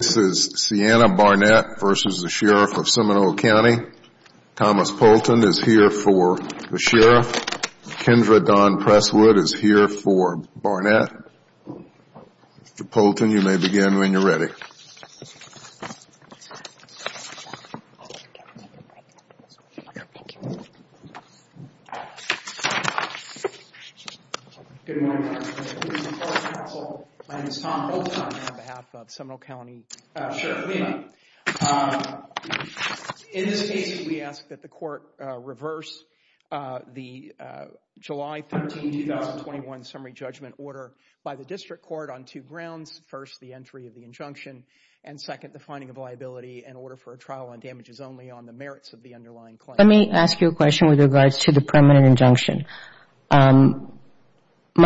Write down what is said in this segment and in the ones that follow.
This is Seanna Barnett v. Sheriff of Seminole County. Thomas Poulton is here for the Sheriff. Kendra Dawn Presswood is here for Barnett. Mr. Poulton, you may begin when you're ready. Good morning, Mr. President and members of the public counsel. My name is Tom Poulton. I'm on behalf of Seminole County Sheriff Lima. In this case, we ask that the court reverse the July 13, 2021, summary judgment order by the district court on two grounds. First, the entry of the injunction. And second, the finding of liability and order for a trial on damages only on the merits of the underlying claim. Let me ask you a question with regards to the permanent injunction. My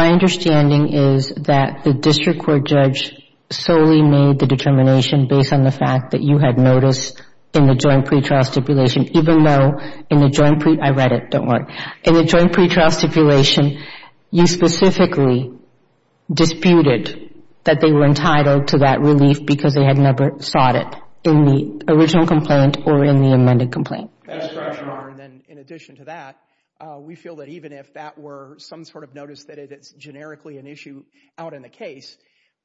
understanding is that the district court judge solely made the determination based on the fact that you had noticed in the joint pretrial stipulation, even though in the joint pretrial stipulation, you specifically disputed that they were entitled to that relief because they had never sought it in the original complaint or in the amended complaint. And then in addition to that, we feel that even if that were some sort of notice that it's generically an issue out in the case,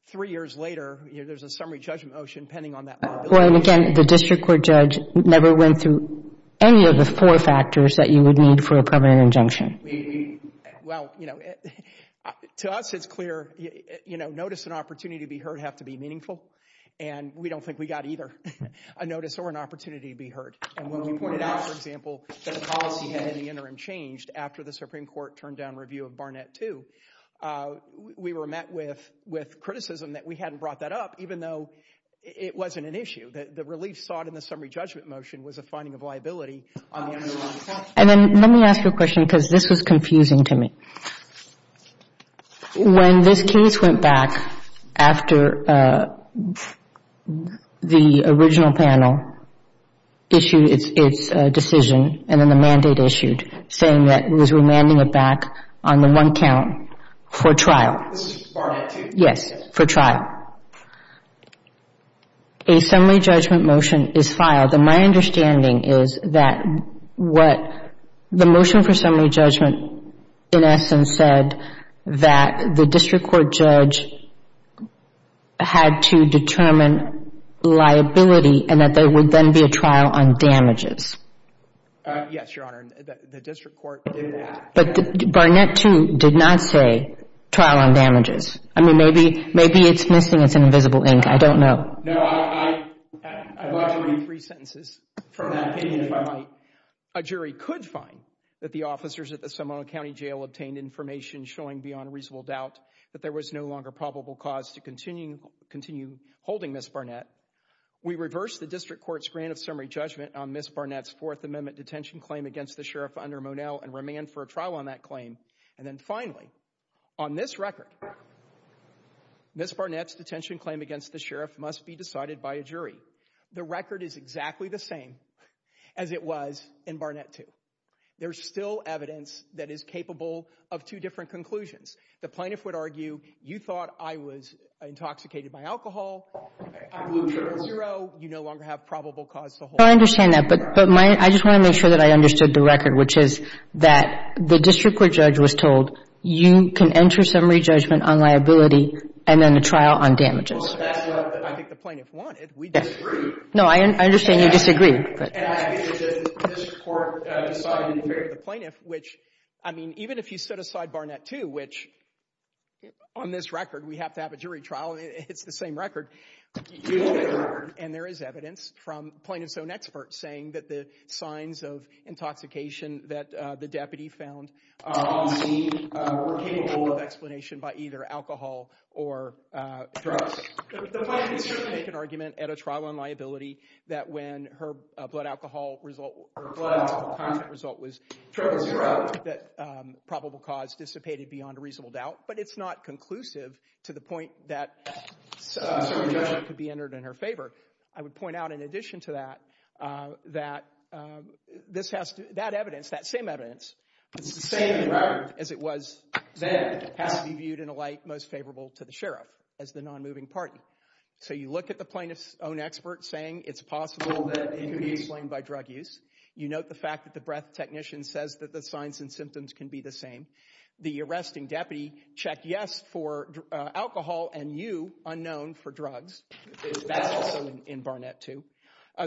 three years later, there's a summary judgment motion pending on that liability. Well, and again, the district court judge never went through any of the four factors that you would need for a permanent injunction. Well, you know, to us it's clear, you know, notice and opportunity to be heard have to be meaningful. And we don't think we got either a notice or an opportunity to be heard. And when we pointed out, for example, that the policy had in the interim changed after the Supreme Court turned down review of Barnett 2, we were met with criticism that we hadn't brought that up, even though it wasn't an issue. The relief sought in the summary judgment motion was a finding of liability on the underlying claim. And then let me ask you a question because this was confusing to me. When this case went back after the original panel issued its decision and then the mandate issued saying that it was remanding it back on the one count for trial. This is Barnett 2? Yes, for trial. A summary judgment motion is filed. My understanding is that what the motion for summary judgment in essence said that the district court judge had to determine liability and that there would then be a trial on damages. Yes, Your Honor. The district court did that. But Barnett 2 did not say trial on damages. I mean, maybe it's missing. It's in invisible ink. I don't know. No, I'd like to read three sentences from that opinion if I might. A jury could find that the officers at the Seminole County Jail obtained information showing beyond reasonable doubt that there was no longer probable cause to continue holding Ms. Barnett. We reversed the district court's grant of summary judgment on Ms. Barnett's Fourth Amendment detention claim against the sheriff under Monell and remanded for a trial on that claim. And then finally, on this record, Ms. Barnett's detention claim against the sheriff must be decided by a jury. The record is exactly the same as it was in Barnett 2. There's still evidence that is capable of two different conclusions. The plaintiff would argue, you thought I was intoxicated by alcohol. Zero. You no longer have probable cause to hold. I understand that. But I just want to make sure that I understood the record, which is that the district court judge was told, you can enter summary judgment on liability and then a trial on damages. Well, that's what I think the plaintiff wanted. We disagreed. No, I understand you disagreed. And I think that the district court decided in favor of the plaintiff, which, I mean, even if you set aside Barnett 2, which on this record we have to have a jury trial, it's the same record. And there is evidence from plaintiff's own experts saying that the signs of intoxication that the deputy found were capable of explanation by either alcohol or drugs. The plaintiff can certainly make an argument at a trial on liability that when her blood alcohol result or blood alcohol contract result was triple zero, that probable cause dissipated beyond a reasonable doubt. But it's not conclusive to the point that summary judgment could be entered in her favor. I would point out in addition to that, that this has to, that evidence, that same evidence, it's the same record as it was then, has to be viewed in a light most favorable to the sheriff as the non-moving party. So you look at the plaintiff's own experts saying it's possible that it could be explained by drug use. You note the fact that the breath technician says that the signs and symptoms can be the same. The arresting deputy checked yes for alcohol and you, unknown, for drugs. That's also in Barnett too.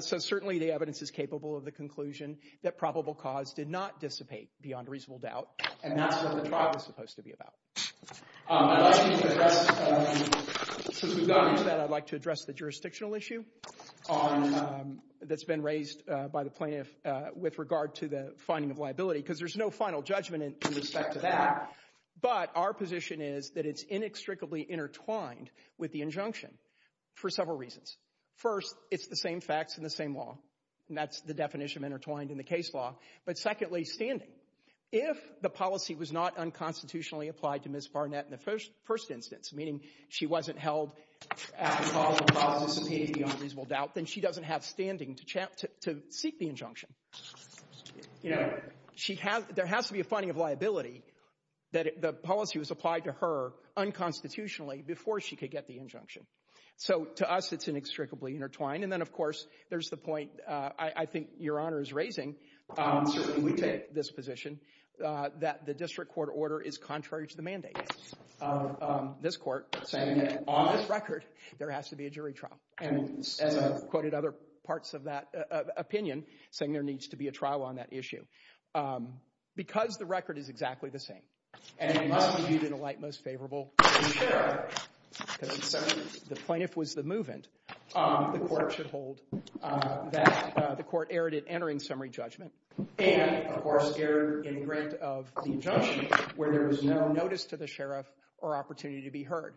So certainly the evidence is capable of the conclusion that probable cause did not dissipate beyond reasonable doubt and that's what the trial is supposed to be about. I'd like to address, since we've gone into that, I'd like to address the jurisdictional issue that's been raised by the plaintiff with regard to the finding of liability because there's no final judgment in respect to that. But our position is that it's inextricably intertwined with the injunction. For several reasons. First, it's the same facts and the same law. And that's the definition of intertwined in the case law. But secondly, standing. If the policy was not unconstitutionally applied to Ms. Barnett in the first instance, meaning she wasn't held at probable cause and dissipated beyond reasonable doubt, then she doesn't have standing to seek the injunction. There has to be a finding of liability that the policy was applied to her unconstitutionally before she could get the injunction. So to us, it's inextricably intertwined. And then, of course, there's the point I think Your Honor is raising. Certainly we take this position that the district court order is contrary to the mandate of this court, saying that on this record, there has to be a jury trial. And as I've quoted other parts of that opinion, saying there needs to be a trial on that issue. Because the record is exactly the same. And it must be viewed in a light most favorable to the sheriff. Because if the plaintiff was the move-in, the court should hold that the court erred in entering summary judgment and, of course, erred in grant of the injunction where there was no notice to the sheriff or opportunity to be heard.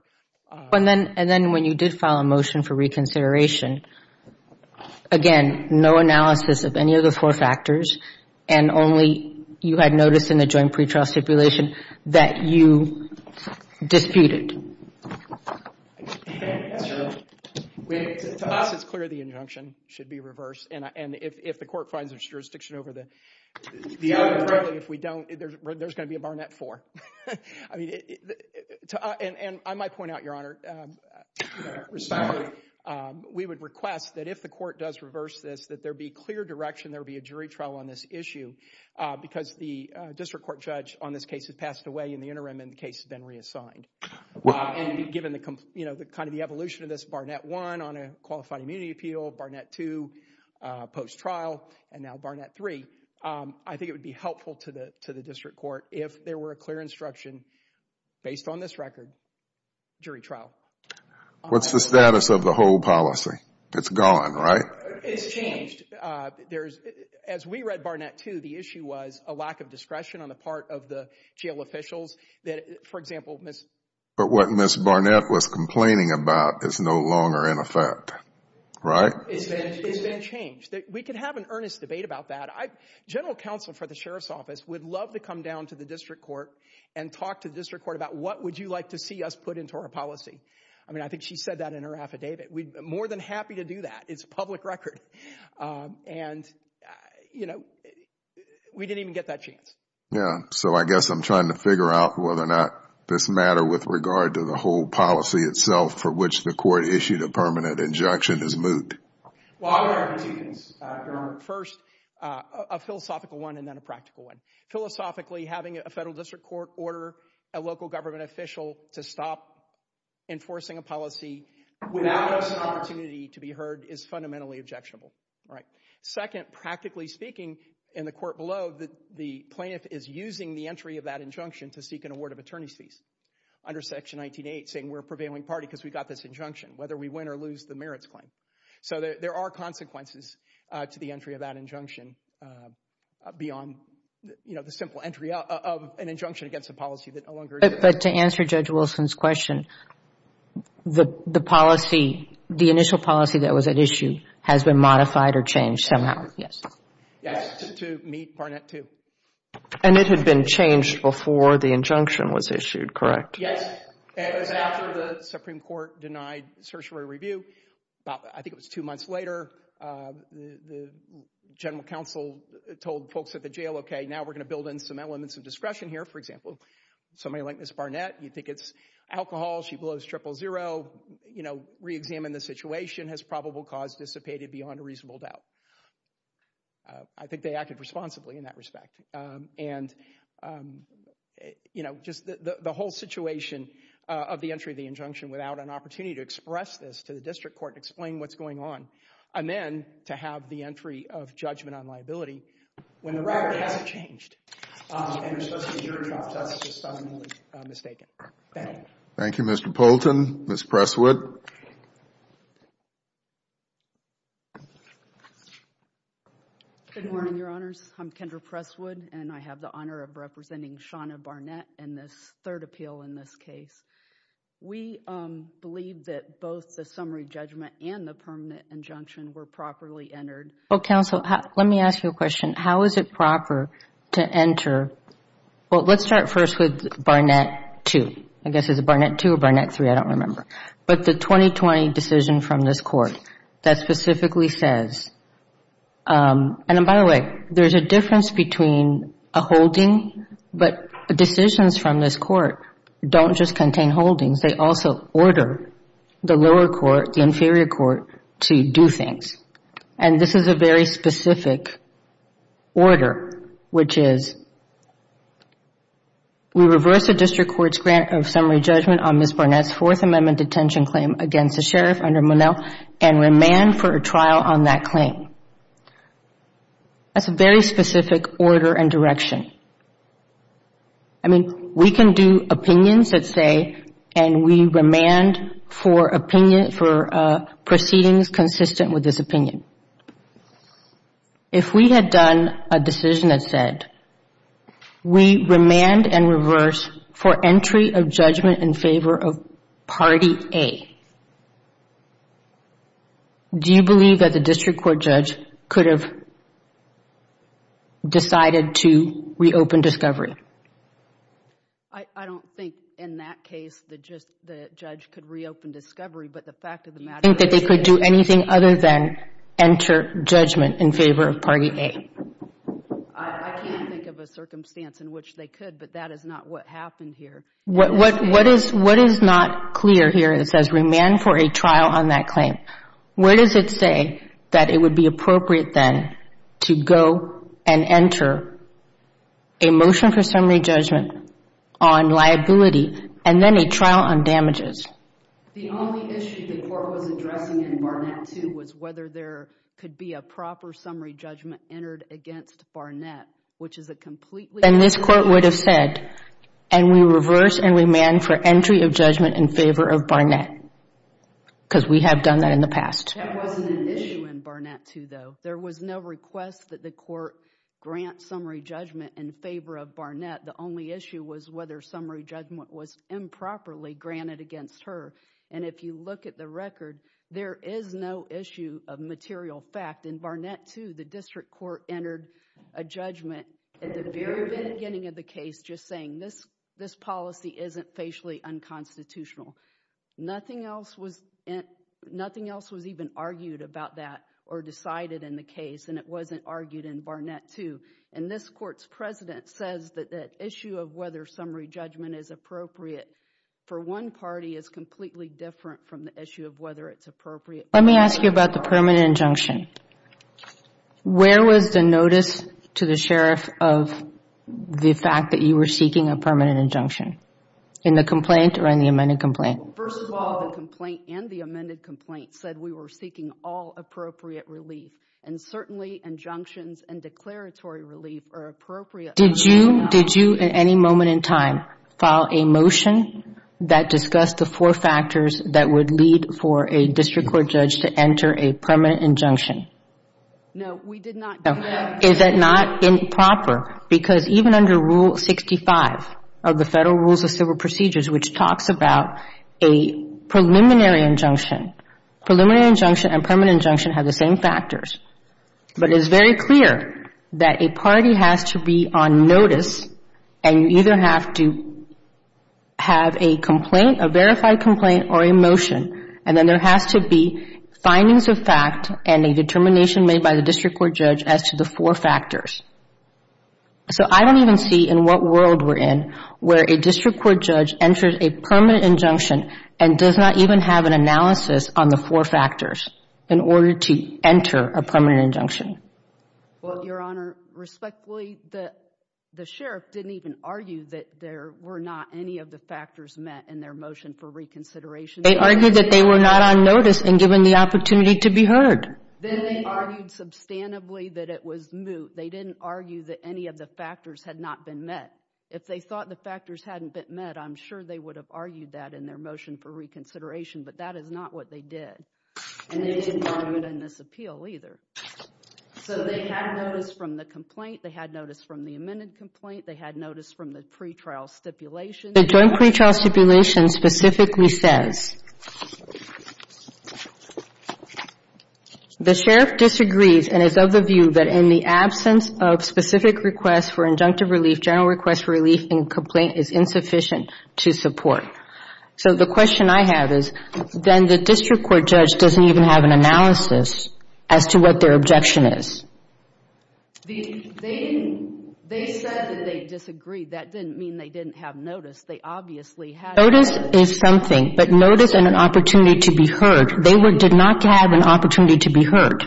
And then when you did file a motion for reconsideration, again, no analysis of any of the four factors and only you had notice in the joint pretrial stipulation that you disputed. To us, it's clear the injunction should be reversed. And if the court finds its jurisdiction over the other, if we don't, there's going to be a Barnett 4. And I might point out, Your Honor, we would request that if the court does reverse this, that there be clear direction there be a jury trial on this issue. Because the district court judge on this case has passed away in the interim and the case has been reassigned. And given the evolution of this, Barnett 1 on a qualified immunity appeal, Barnett 2 post-trial, and now Barnett 3, I think it would be helpful to the district court if there were a clear instruction based on this record, jury trial. What's the status of the whole policy? It's gone, right? It's changed. As we read Barnett 2, the issue was a lack of discretion on the part of the jail officials. For example, Ms. But what Ms. Barnett was complaining about is no longer in effect, right? It's been changed. We can have an earnest debate about that. General counsel for the sheriff's office would love to come down to the district court and talk to the district court about what would you like to see us put into our policy. I mean, I think she said that in her affidavit. We'd be more than happy to do that. It's a public record. And, you know, we didn't even get that chance. Yeah. So I guess I'm trying to figure out whether or not this matter with regard to the whole policy itself for which the court issued a permanent injunction is moot. Well, I have two things, Your Honor. First, a philosophical one and then a practical one. Philosophically, having a federal district court order a local government official to stop enforcing a policy without an opportunity to be heard is fundamentally objectionable, right? Second, practically speaking, in the court below, the plaintiff is using the entry of that injunction to seek an award of attorney's fees under Section 19.8 saying we're a prevailing party because we got this injunction, whether we win or lose the merits claim. So there are consequences to the entry of that injunction beyond, you know, the simple entry of an injunction against a policy that no longer exists. But to answer Judge Wilson's question, the policy, the initial policy that was at issue has been modified or changed somehow. Yes. Yes, to meet Barnett 2. And it had been changed before the injunction was issued, correct? Yes. It was after the Supreme Court denied certiorari review. I think it was two months later, the general counsel told folks at the jail, okay, now we're going to build in some elements of discretion here. For example, somebody like Ms. Barnett, you think it's alcohol, she blows triple zero, you know, reexamine the situation, has probable cause dissipated beyond a reasonable doubt. I think they acted responsibly in that respect. And, you know, just the whole situation of the entry of the injunction without an opportunity to express this to the district court and explain what's going on, and then to have the entry of judgment on liability when the record hasn't changed and there's supposed to be a jury trial. That's just fundamentally mistaken. Thank you. Thank you, Mr. Poulton. Ms. Presswood. Good morning, Your Honors. I'm Kendra Presswood and I have the honor of representing Shawna Barnett in this third appeal in this case. We believe that both the summary judgment and the permanent injunction were properly entered. Well, counsel, let me ask you a question. How is it proper to enter? Well, let's start first with Barnett 2. I guess it's Barnett 2 or Barnett 3, I don't remember. But the 2020 decision from this Court that specifically says, and by the way, there's a difference between a holding, but decisions from this Court don't just contain holdings. They also order the lower court, the inferior court, to do things. This is a very specific order, which is we reverse the district court's grant of summary judgment on Ms. Barnett's Fourth Amendment detention claim against the sheriff under Monell and remand for a trial on that claim. That's a very specific order and direction. I mean, we can do opinions that say, and we remand for proceedings consistent with this opinion. If we had done a decision that said, we remand and reverse for entry of judgment in favor of Party A, do you believe that the district court judge could have decided to reopen discovery? I don't think in that case the judge could reopen discovery, but the fact of the matter is... Do you think that they could do anything other than enter judgment in favor of Party A? I can't think of a circumstance in which they could, but that is not what happened here. What is not clear here, it says remand for a trial on that claim. Where does it say that it would be appropriate then to go and enter a motion for summary judgment on liability and then a trial on damages? The only issue the court was addressing in Barnett 2 was whether there could be a proper summary judgment entered against Barnett, which is a completely... Then this court would have said, and we reverse and remand for entry of judgment in favor of Barnett, because we have done that in the past. That wasn't an issue in Barnett 2, though. There was no request that the court grant summary judgment in favor of Barnett. The only issue was whether summary judgment was improperly granted against her. And if you look at the record, there is no issue of material fact. In Barnett 2, the district court entered a judgment at the very beginning of the case just saying, this policy isn't facially unconstitutional. Nothing else was even argued about that or decided in the case, and it wasn't argued in Barnett 2. And this court's president says that the issue of whether summary judgment is appropriate for one party is completely different from the issue of whether it's appropriate... Where was the notice to the sheriff of the fact that you were seeking a permanent injunction? In the complaint or in the amended complaint? First of all, the complaint and the amended complaint said we were seeking all appropriate relief, and certainly injunctions and declaratory relief are appropriate... Did you at any moment in time file a motion that discussed the four factors that would lead for a district court judge to enter a permanent injunction? No, we did not do that. Is it not improper? Because even under Rule 65 of the Federal Rules of Civil Procedures, which talks about a preliminary injunction, preliminary injunction and permanent injunction have the same factors. But it is very clear that a party has to be on notice, and you either have to have a complaint, a verified complaint, or a motion, and then there has to be findings of fact and a determination made by the district court judge as to the four factors. So I don't even see in what world we're in where a district court judge enters a permanent injunction and does not even have an analysis on the four factors in order to enter a permanent injunction. Well, Your Honor, respectfully, the sheriff didn't even argue that there were not any of the factors met in their motion for reconsideration. They argued that they were not on notice and given the opportunity to be heard. Then they argued substantively that it was moot. They didn't argue that any of the factors had not been met. If they thought the factors hadn't been met, I'm sure they would have argued that in their motion for reconsideration, but that is not what they did. And they didn't argue it in this appeal either. So they had notice from the complaint. They had notice from the amended complaint. They had notice from the pretrial stipulation. The joint pretrial stipulation specifically says the sheriff disagrees and is of the view that in the absence of specific requests for injunctive relief, general requests for relief in a complaint is insufficient to support. So the question I have is then the district court judge doesn't even have an analysis as to what their objection is. They said that they disagreed. That didn't mean they didn't have notice. They obviously had notice. Notice is something, but notice and an opportunity to be heard. They did not have an opportunity to be heard.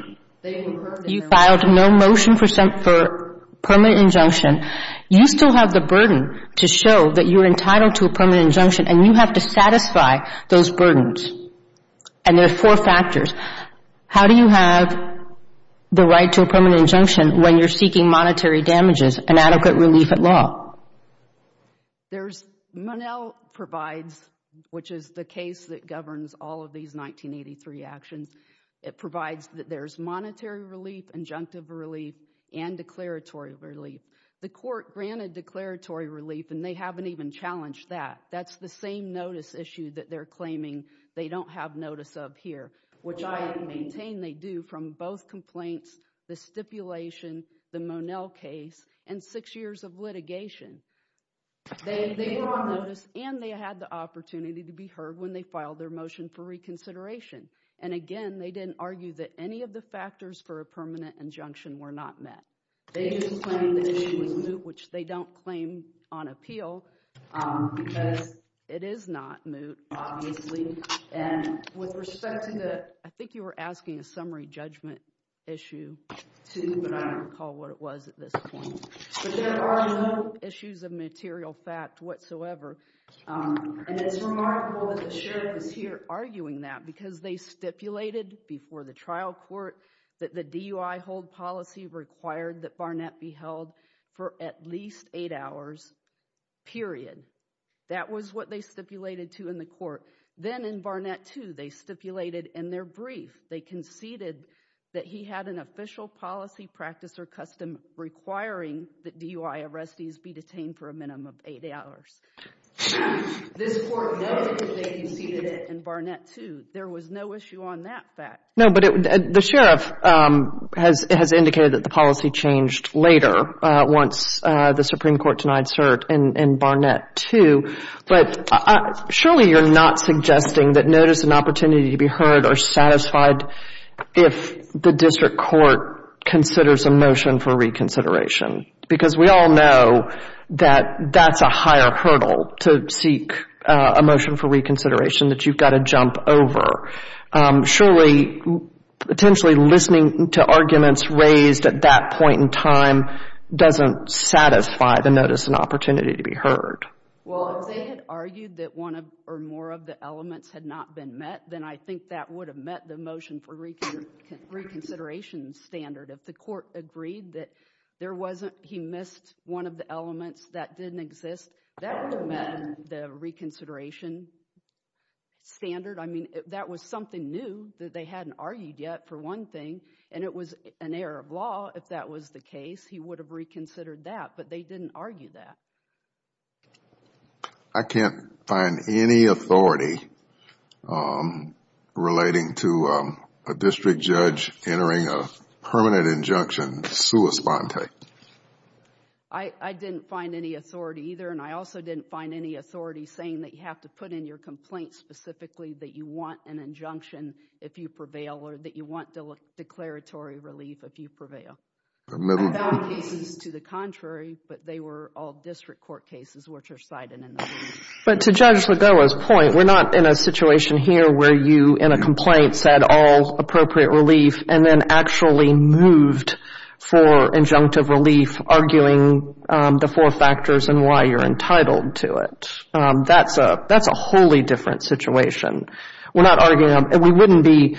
You filed no motion for permanent injunction. You still have the burden to show that you're entitled to a permanent injunction, and you have to satisfy those burdens. And there are four factors. How do you have the right to a permanent injunction when you're seeking monetary damages and adequate relief at law? There's Monell provides, which is the case that governs all of these 1983 actions. It provides that there's monetary relief, injunctive relief, and declaratory relief. The court granted declaratory relief, and they haven't even challenged that. That's the same notice issue that they're claiming they don't have notice of here, which I maintain they do from both complaints, the stipulation, the Monell case, and six years of litigation. They were on notice, and they had the opportunity to be heard when they filed their motion for reconsideration. And again, they didn't argue that any of the factors for a permanent injunction were not met. They just claimed the issue was moot, which they don't claim on appeal because it is not moot, obviously. And with respect to the – I think you were asking a summary judgment issue, too, but I don't recall what it was at this point. But there are no issues of material fact whatsoever. And it's remarkable that the sheriff is here arguing that because they stipulated before the trial court that the DUI hold policy required that Barnett be held for at least eight hours, period. That was what they stipulated, too, in the court. Then in Barnett, too, they stipulated in their brief, they conceded that he had an official policy practice or custom requiring that DUI arrestees be detained for a minimum of eight hours. This court noted that they conceded it in Barnett, too. There was no issue on that fact. No, but the sheriff has indicated that the policy changed later once the Supreme Court denied cert in Barnett, too. But surely you're not suggesting that notice and opportunity to be heard are satisfied if the district court considers a motion for reconsideration, because we all know that that's a higher hurdle to seek a motion for reconsideration, that you've got to jump over. Surely, potentially listening to arguments raised at that point in time doesn't satisfy the notice and opportunity to be heard. Well, if they had argued that one or more of the elements had not been met, then I think that would have met the motion for reconsideration standard. If the Court agreed that there wasn't, he missed one of the elements that didn't exist, that would have met the reconsideration standard. I mean, that was something new that they hadn't argued yet, for one thing, and it was an error of law if that was the case. He would have reconsidered that, but they didn't argue that. I can't find any authority relating to a district judge entering a permanent injunction sua sponte. I didn't find any authority either, and I also didn't find any authority saying that you have to put in your complaint specifically that you want an injunction if you prevail or that you want declaratory relief if you prevail. I found cases to the contrary, but they were all district court cases, which are cited in the ruling. But to Judge Lagoa's point, we're not in a situation here where you, in a complaint, said all appropriate relief and then actually moved for injunctive relief, arguing the four factors and why you're entitled to it. That's a wholly different situation. We're not arguing, and we wouldn't be,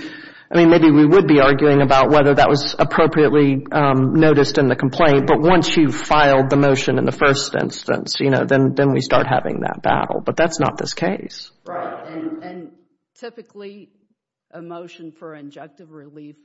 I mean, maybe we would be arguing about whether that was appropriately noticed in the complaint, but once you filed the motion in the first instance, you know, then we start having that battle, but that's not this case. Right, and typically a motion for injunctive relief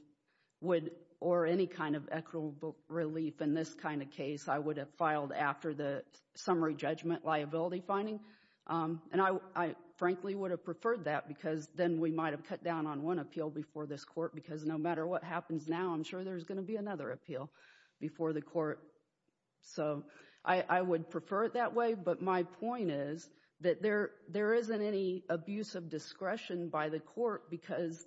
would, or any kind of equitable relief in this kind of case, I would have filed after the summary judgment liability finding, and I frankly would have preferred that because then we might have cut down on one appeal before this court because no matter what happens now, I'm sure there's going to be another appeal before the court. So I would prefer it that way, but my point is that there isn't any abuse of discretion by the court because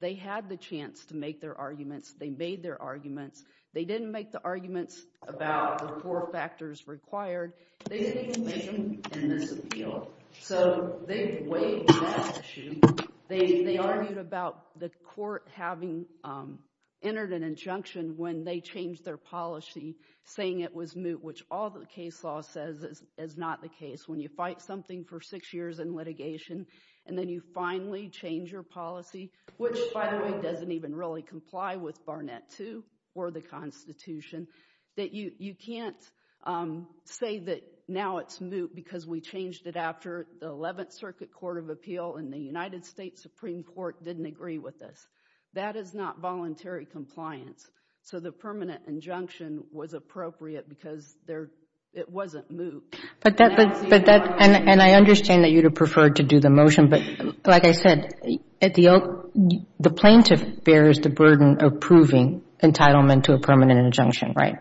they had the chance to make their arguments. They made their arguments. They didn't make the arguments about the four factors required. They didn't make them in this appeal, so they weighed that issue. They argued about the court having entered an injunction when they changed their policy, saying it was moot, which all the case law says is not the case. When you fight something for six years in litigation and then you finally change your policy, which, by the way, doesn't even really comply with Barnett II or the Constitution, that you can't say that now it's moot because we changed it after the Eleventh Circuit Court of Appeal and the United States Supreme Court didn't agree with us. That is not voluntary compliance. So the permanent injunction was appropriate because it wasn't moot. And I understand that you would have preferred to do the motion, but like I said, the plaintiff bears the burden of proving entitlement to a permanent injunction, right?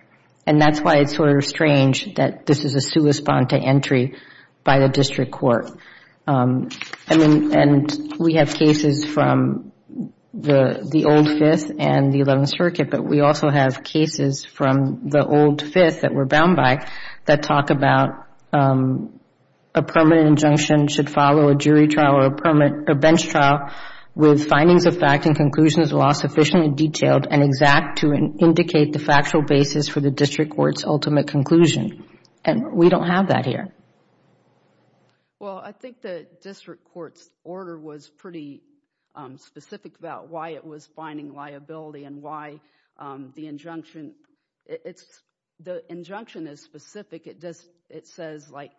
And that's why it's sort of strange that this is a sua sponte entry by the district court. And we have cases from the old Fifth and the Eleventh Circuit, but we also have cases from the old Fifth that we're bound by that talk about a permanent injunction should follow a jury trial or a bench trial with findings of fact and conclusions of law sufficiently detailed and exact to indicate the factual basis for the district court's ultimate conclusion. And we don't have that here. Well, I think the district court's order was pretty specific about why it was finding liability and why the injunction is specific. It says, like,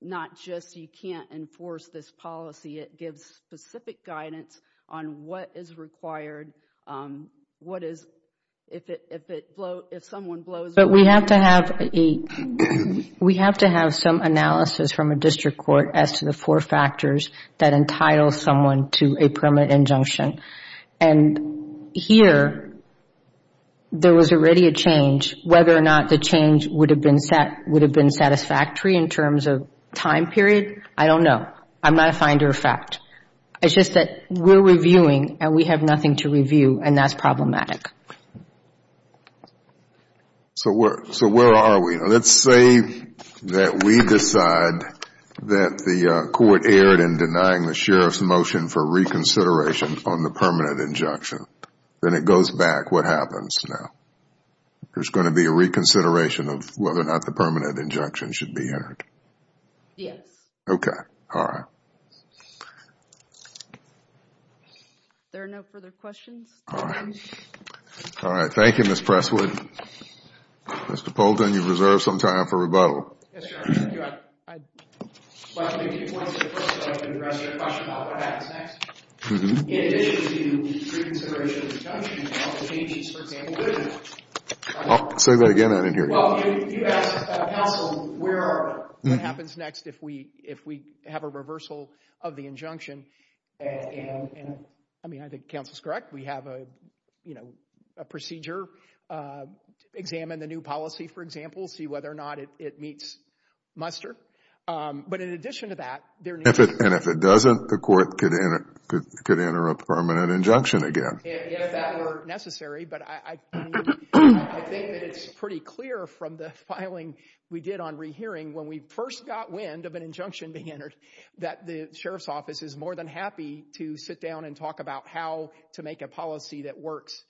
not just you can't enforce this policy, it gives specific guidance on what is required, what is, if someone blows the whistle. But we have to have some analysis from a district court as to the four factors that entitle someone to a permanent injunction. And here there was already a change. Whether or not the change would have been satisfactory in terms of time period, I don't know. I'm not a finder of fact. It's just that we're reviewing and we have nothing to review, and that's problematic. So where are we? Let's say that we decide that the court erred in denying the sheriff's motion for reconsideration on the permanent injunction. Then it goes back. What happens now? There's going to be a reconsideration of whether or not the permanent injunction should be entered. Yes. Okay. All right. There are no further questions. All right. Mr. Poulton, you've reserved some time for rebuttal. Yes, Your Honor. I'd like to make a few points. First, I'd like to address your question about what happens next. In addition to the reconsideration of the injunction, do you count the changes, for example? I'll say that again. I didn't hear you. Well, you asked counsel where are we. What happens next if we have a reversal of the injunction? And I mean, I think counsel's correct. We have a procedure. Examine the new policy, for example. We'll see whether or not it meets muster. But in addition to that, there needs to be — And if it doesn't, the court could enter a permanent injunction again. If that were necessary. But I think that it's pretty clear from the filing we did on rehearing, when we first got wind of an injunction being entered, that the Sheriff's Office is more than happy to sit down and talk about how to make a policy that works.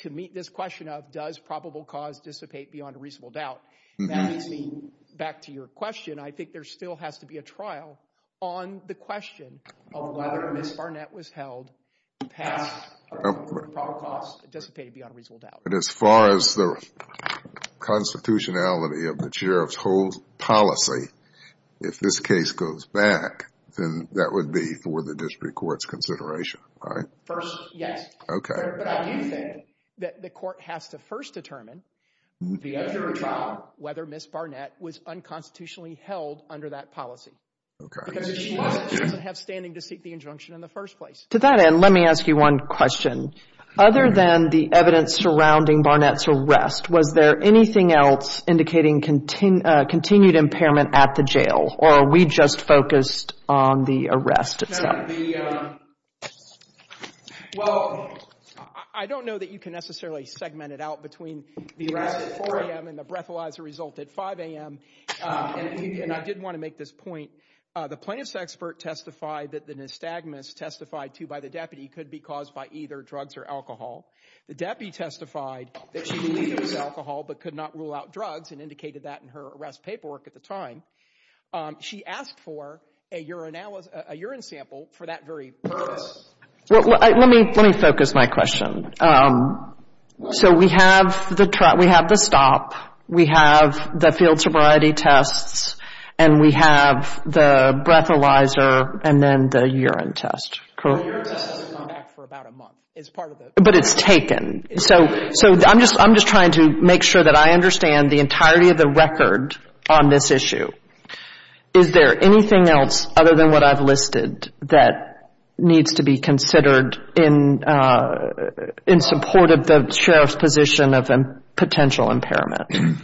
To meet this question of does probable cause dissipate beyond a reasonable doubt. That leads me back to your question. I think there still has to be a trial on the question of whether Ms. Barnett was held past probable cause dissipated beyond a reasonable doubt. But as far as the constitutionality of the sheriff's whole policy, if this case goes back, then that would be for the district court's consideration, right? First, yes. Okay. But I do think that the court has to first determine, the after trial, whether Ms. Barnett was unconstitutionally held under that policy. Okay. Because if she wasn't, she doesn't have standing to seek the injunction in the first place. To that end, let me ask you one question. Other than the evidence surrounding Barnett's arrest, was there anything else indicating continued impairment at the jail? Or are we just focused on the arrest itself? Well, I don't know that you can necessarily segment it out between the arrest at 4 a.m. and the breathalyzer result at 5 a.m. And I did want to make this point. The plaintiff's expert testified that the nystagmus testified to by the deputy could be caused by either drugs or alcohol. The deputy testified that she believed it was alcohol but could not rule out drugs and indicated that in her arrest paperwork at the time. She asked for a urine sample for that very purpose. Let me focus my question. So we have the stop. We have the field sobriety tests. And we have the breathalyzer and then the urine test. The urine test has come back for about a month. But it's taken. So I'm just trying to make sure that I understand the entirety of the record on this issue. Is there anything else other than what I've listed that needs to be considered in support of the sheriff's position of a potential impairment?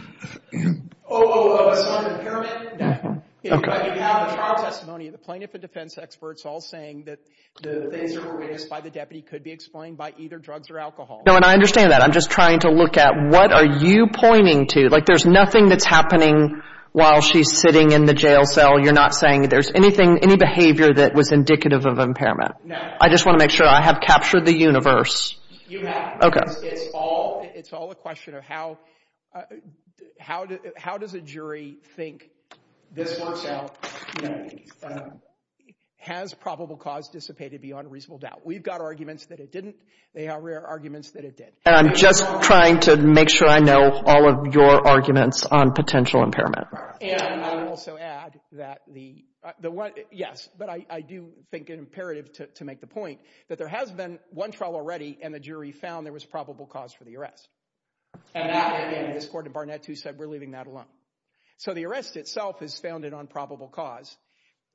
Oh, so an impairment? You have the trial testimony of the plaintiff and defense experts all saying that the things that were raised by the deputy could be explained by either drugs or alcohol. No, and I understand that. I'm just trying to look at what are you pointing to. Like there's nothing that's happening while she's sitting in the jail cell. You're not saying there's anything, any behavior that was indicative of impairment? No. I just want to make sure I have captured the universe. You have. Okay. It's all a question of how does a jury think this works out? Has probable cause dissipated beyond reasonable doubt? We've got arguments that it didn't. They have rare arguments that it did. And I'm just trying to make sure I know all of your arguments on potential impairment. And I would also add that the one, yes, but I do think it's imperative to make the point that there has been one trial already and the jury found there was probable cause for the arrest. And at the end of this court, Barnett too said we're leaving that alone. So the arrest itself is founded on probable cause.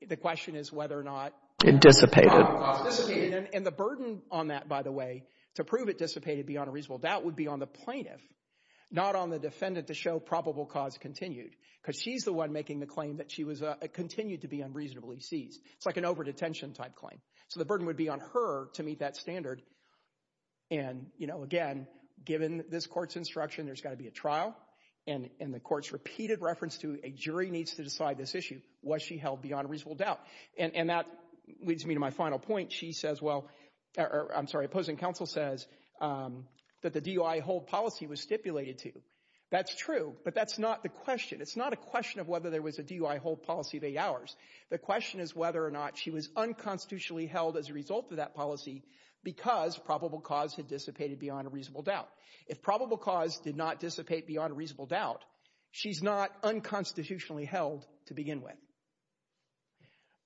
The question is whether or not it dissipated. And the burden on that, by the way, to prove it dissipated beyond a reasonable doubt would be on the plaintiff, not on the defendant to show probable cause continued because she's the one making the claim that she continued to be unreasonably seized. It's like an overdetention type claim. So the burden would be on her to meet that standard. And, you know, again, given this court's instruction, there's got to be a trial. And the court's repeated reference to a jury needs to decide this issue. Was she held beyond reasonable doubt? And that leads me to my final point. She says well—I'm sorry, opposing counsel says that the DUI hold policy was stipulated to. That's true, but that's not the question. It's not a question of whether there was a DUI hold policy of eight hours. The question is whether or not she was unconstitutionally held as a result of that policy because probable cause had dissipated beyond a reasonable doubt. If probable cause did not dissipate beyond a reasonable doubt, she's not unconstitutionally held to begin with.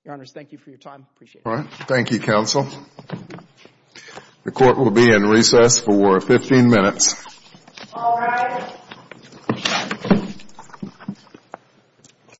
Your Honors, thank you for your time. Appreciate it. All right. Thank you, counsel. The court will be in recess for 15 minutes. All rise.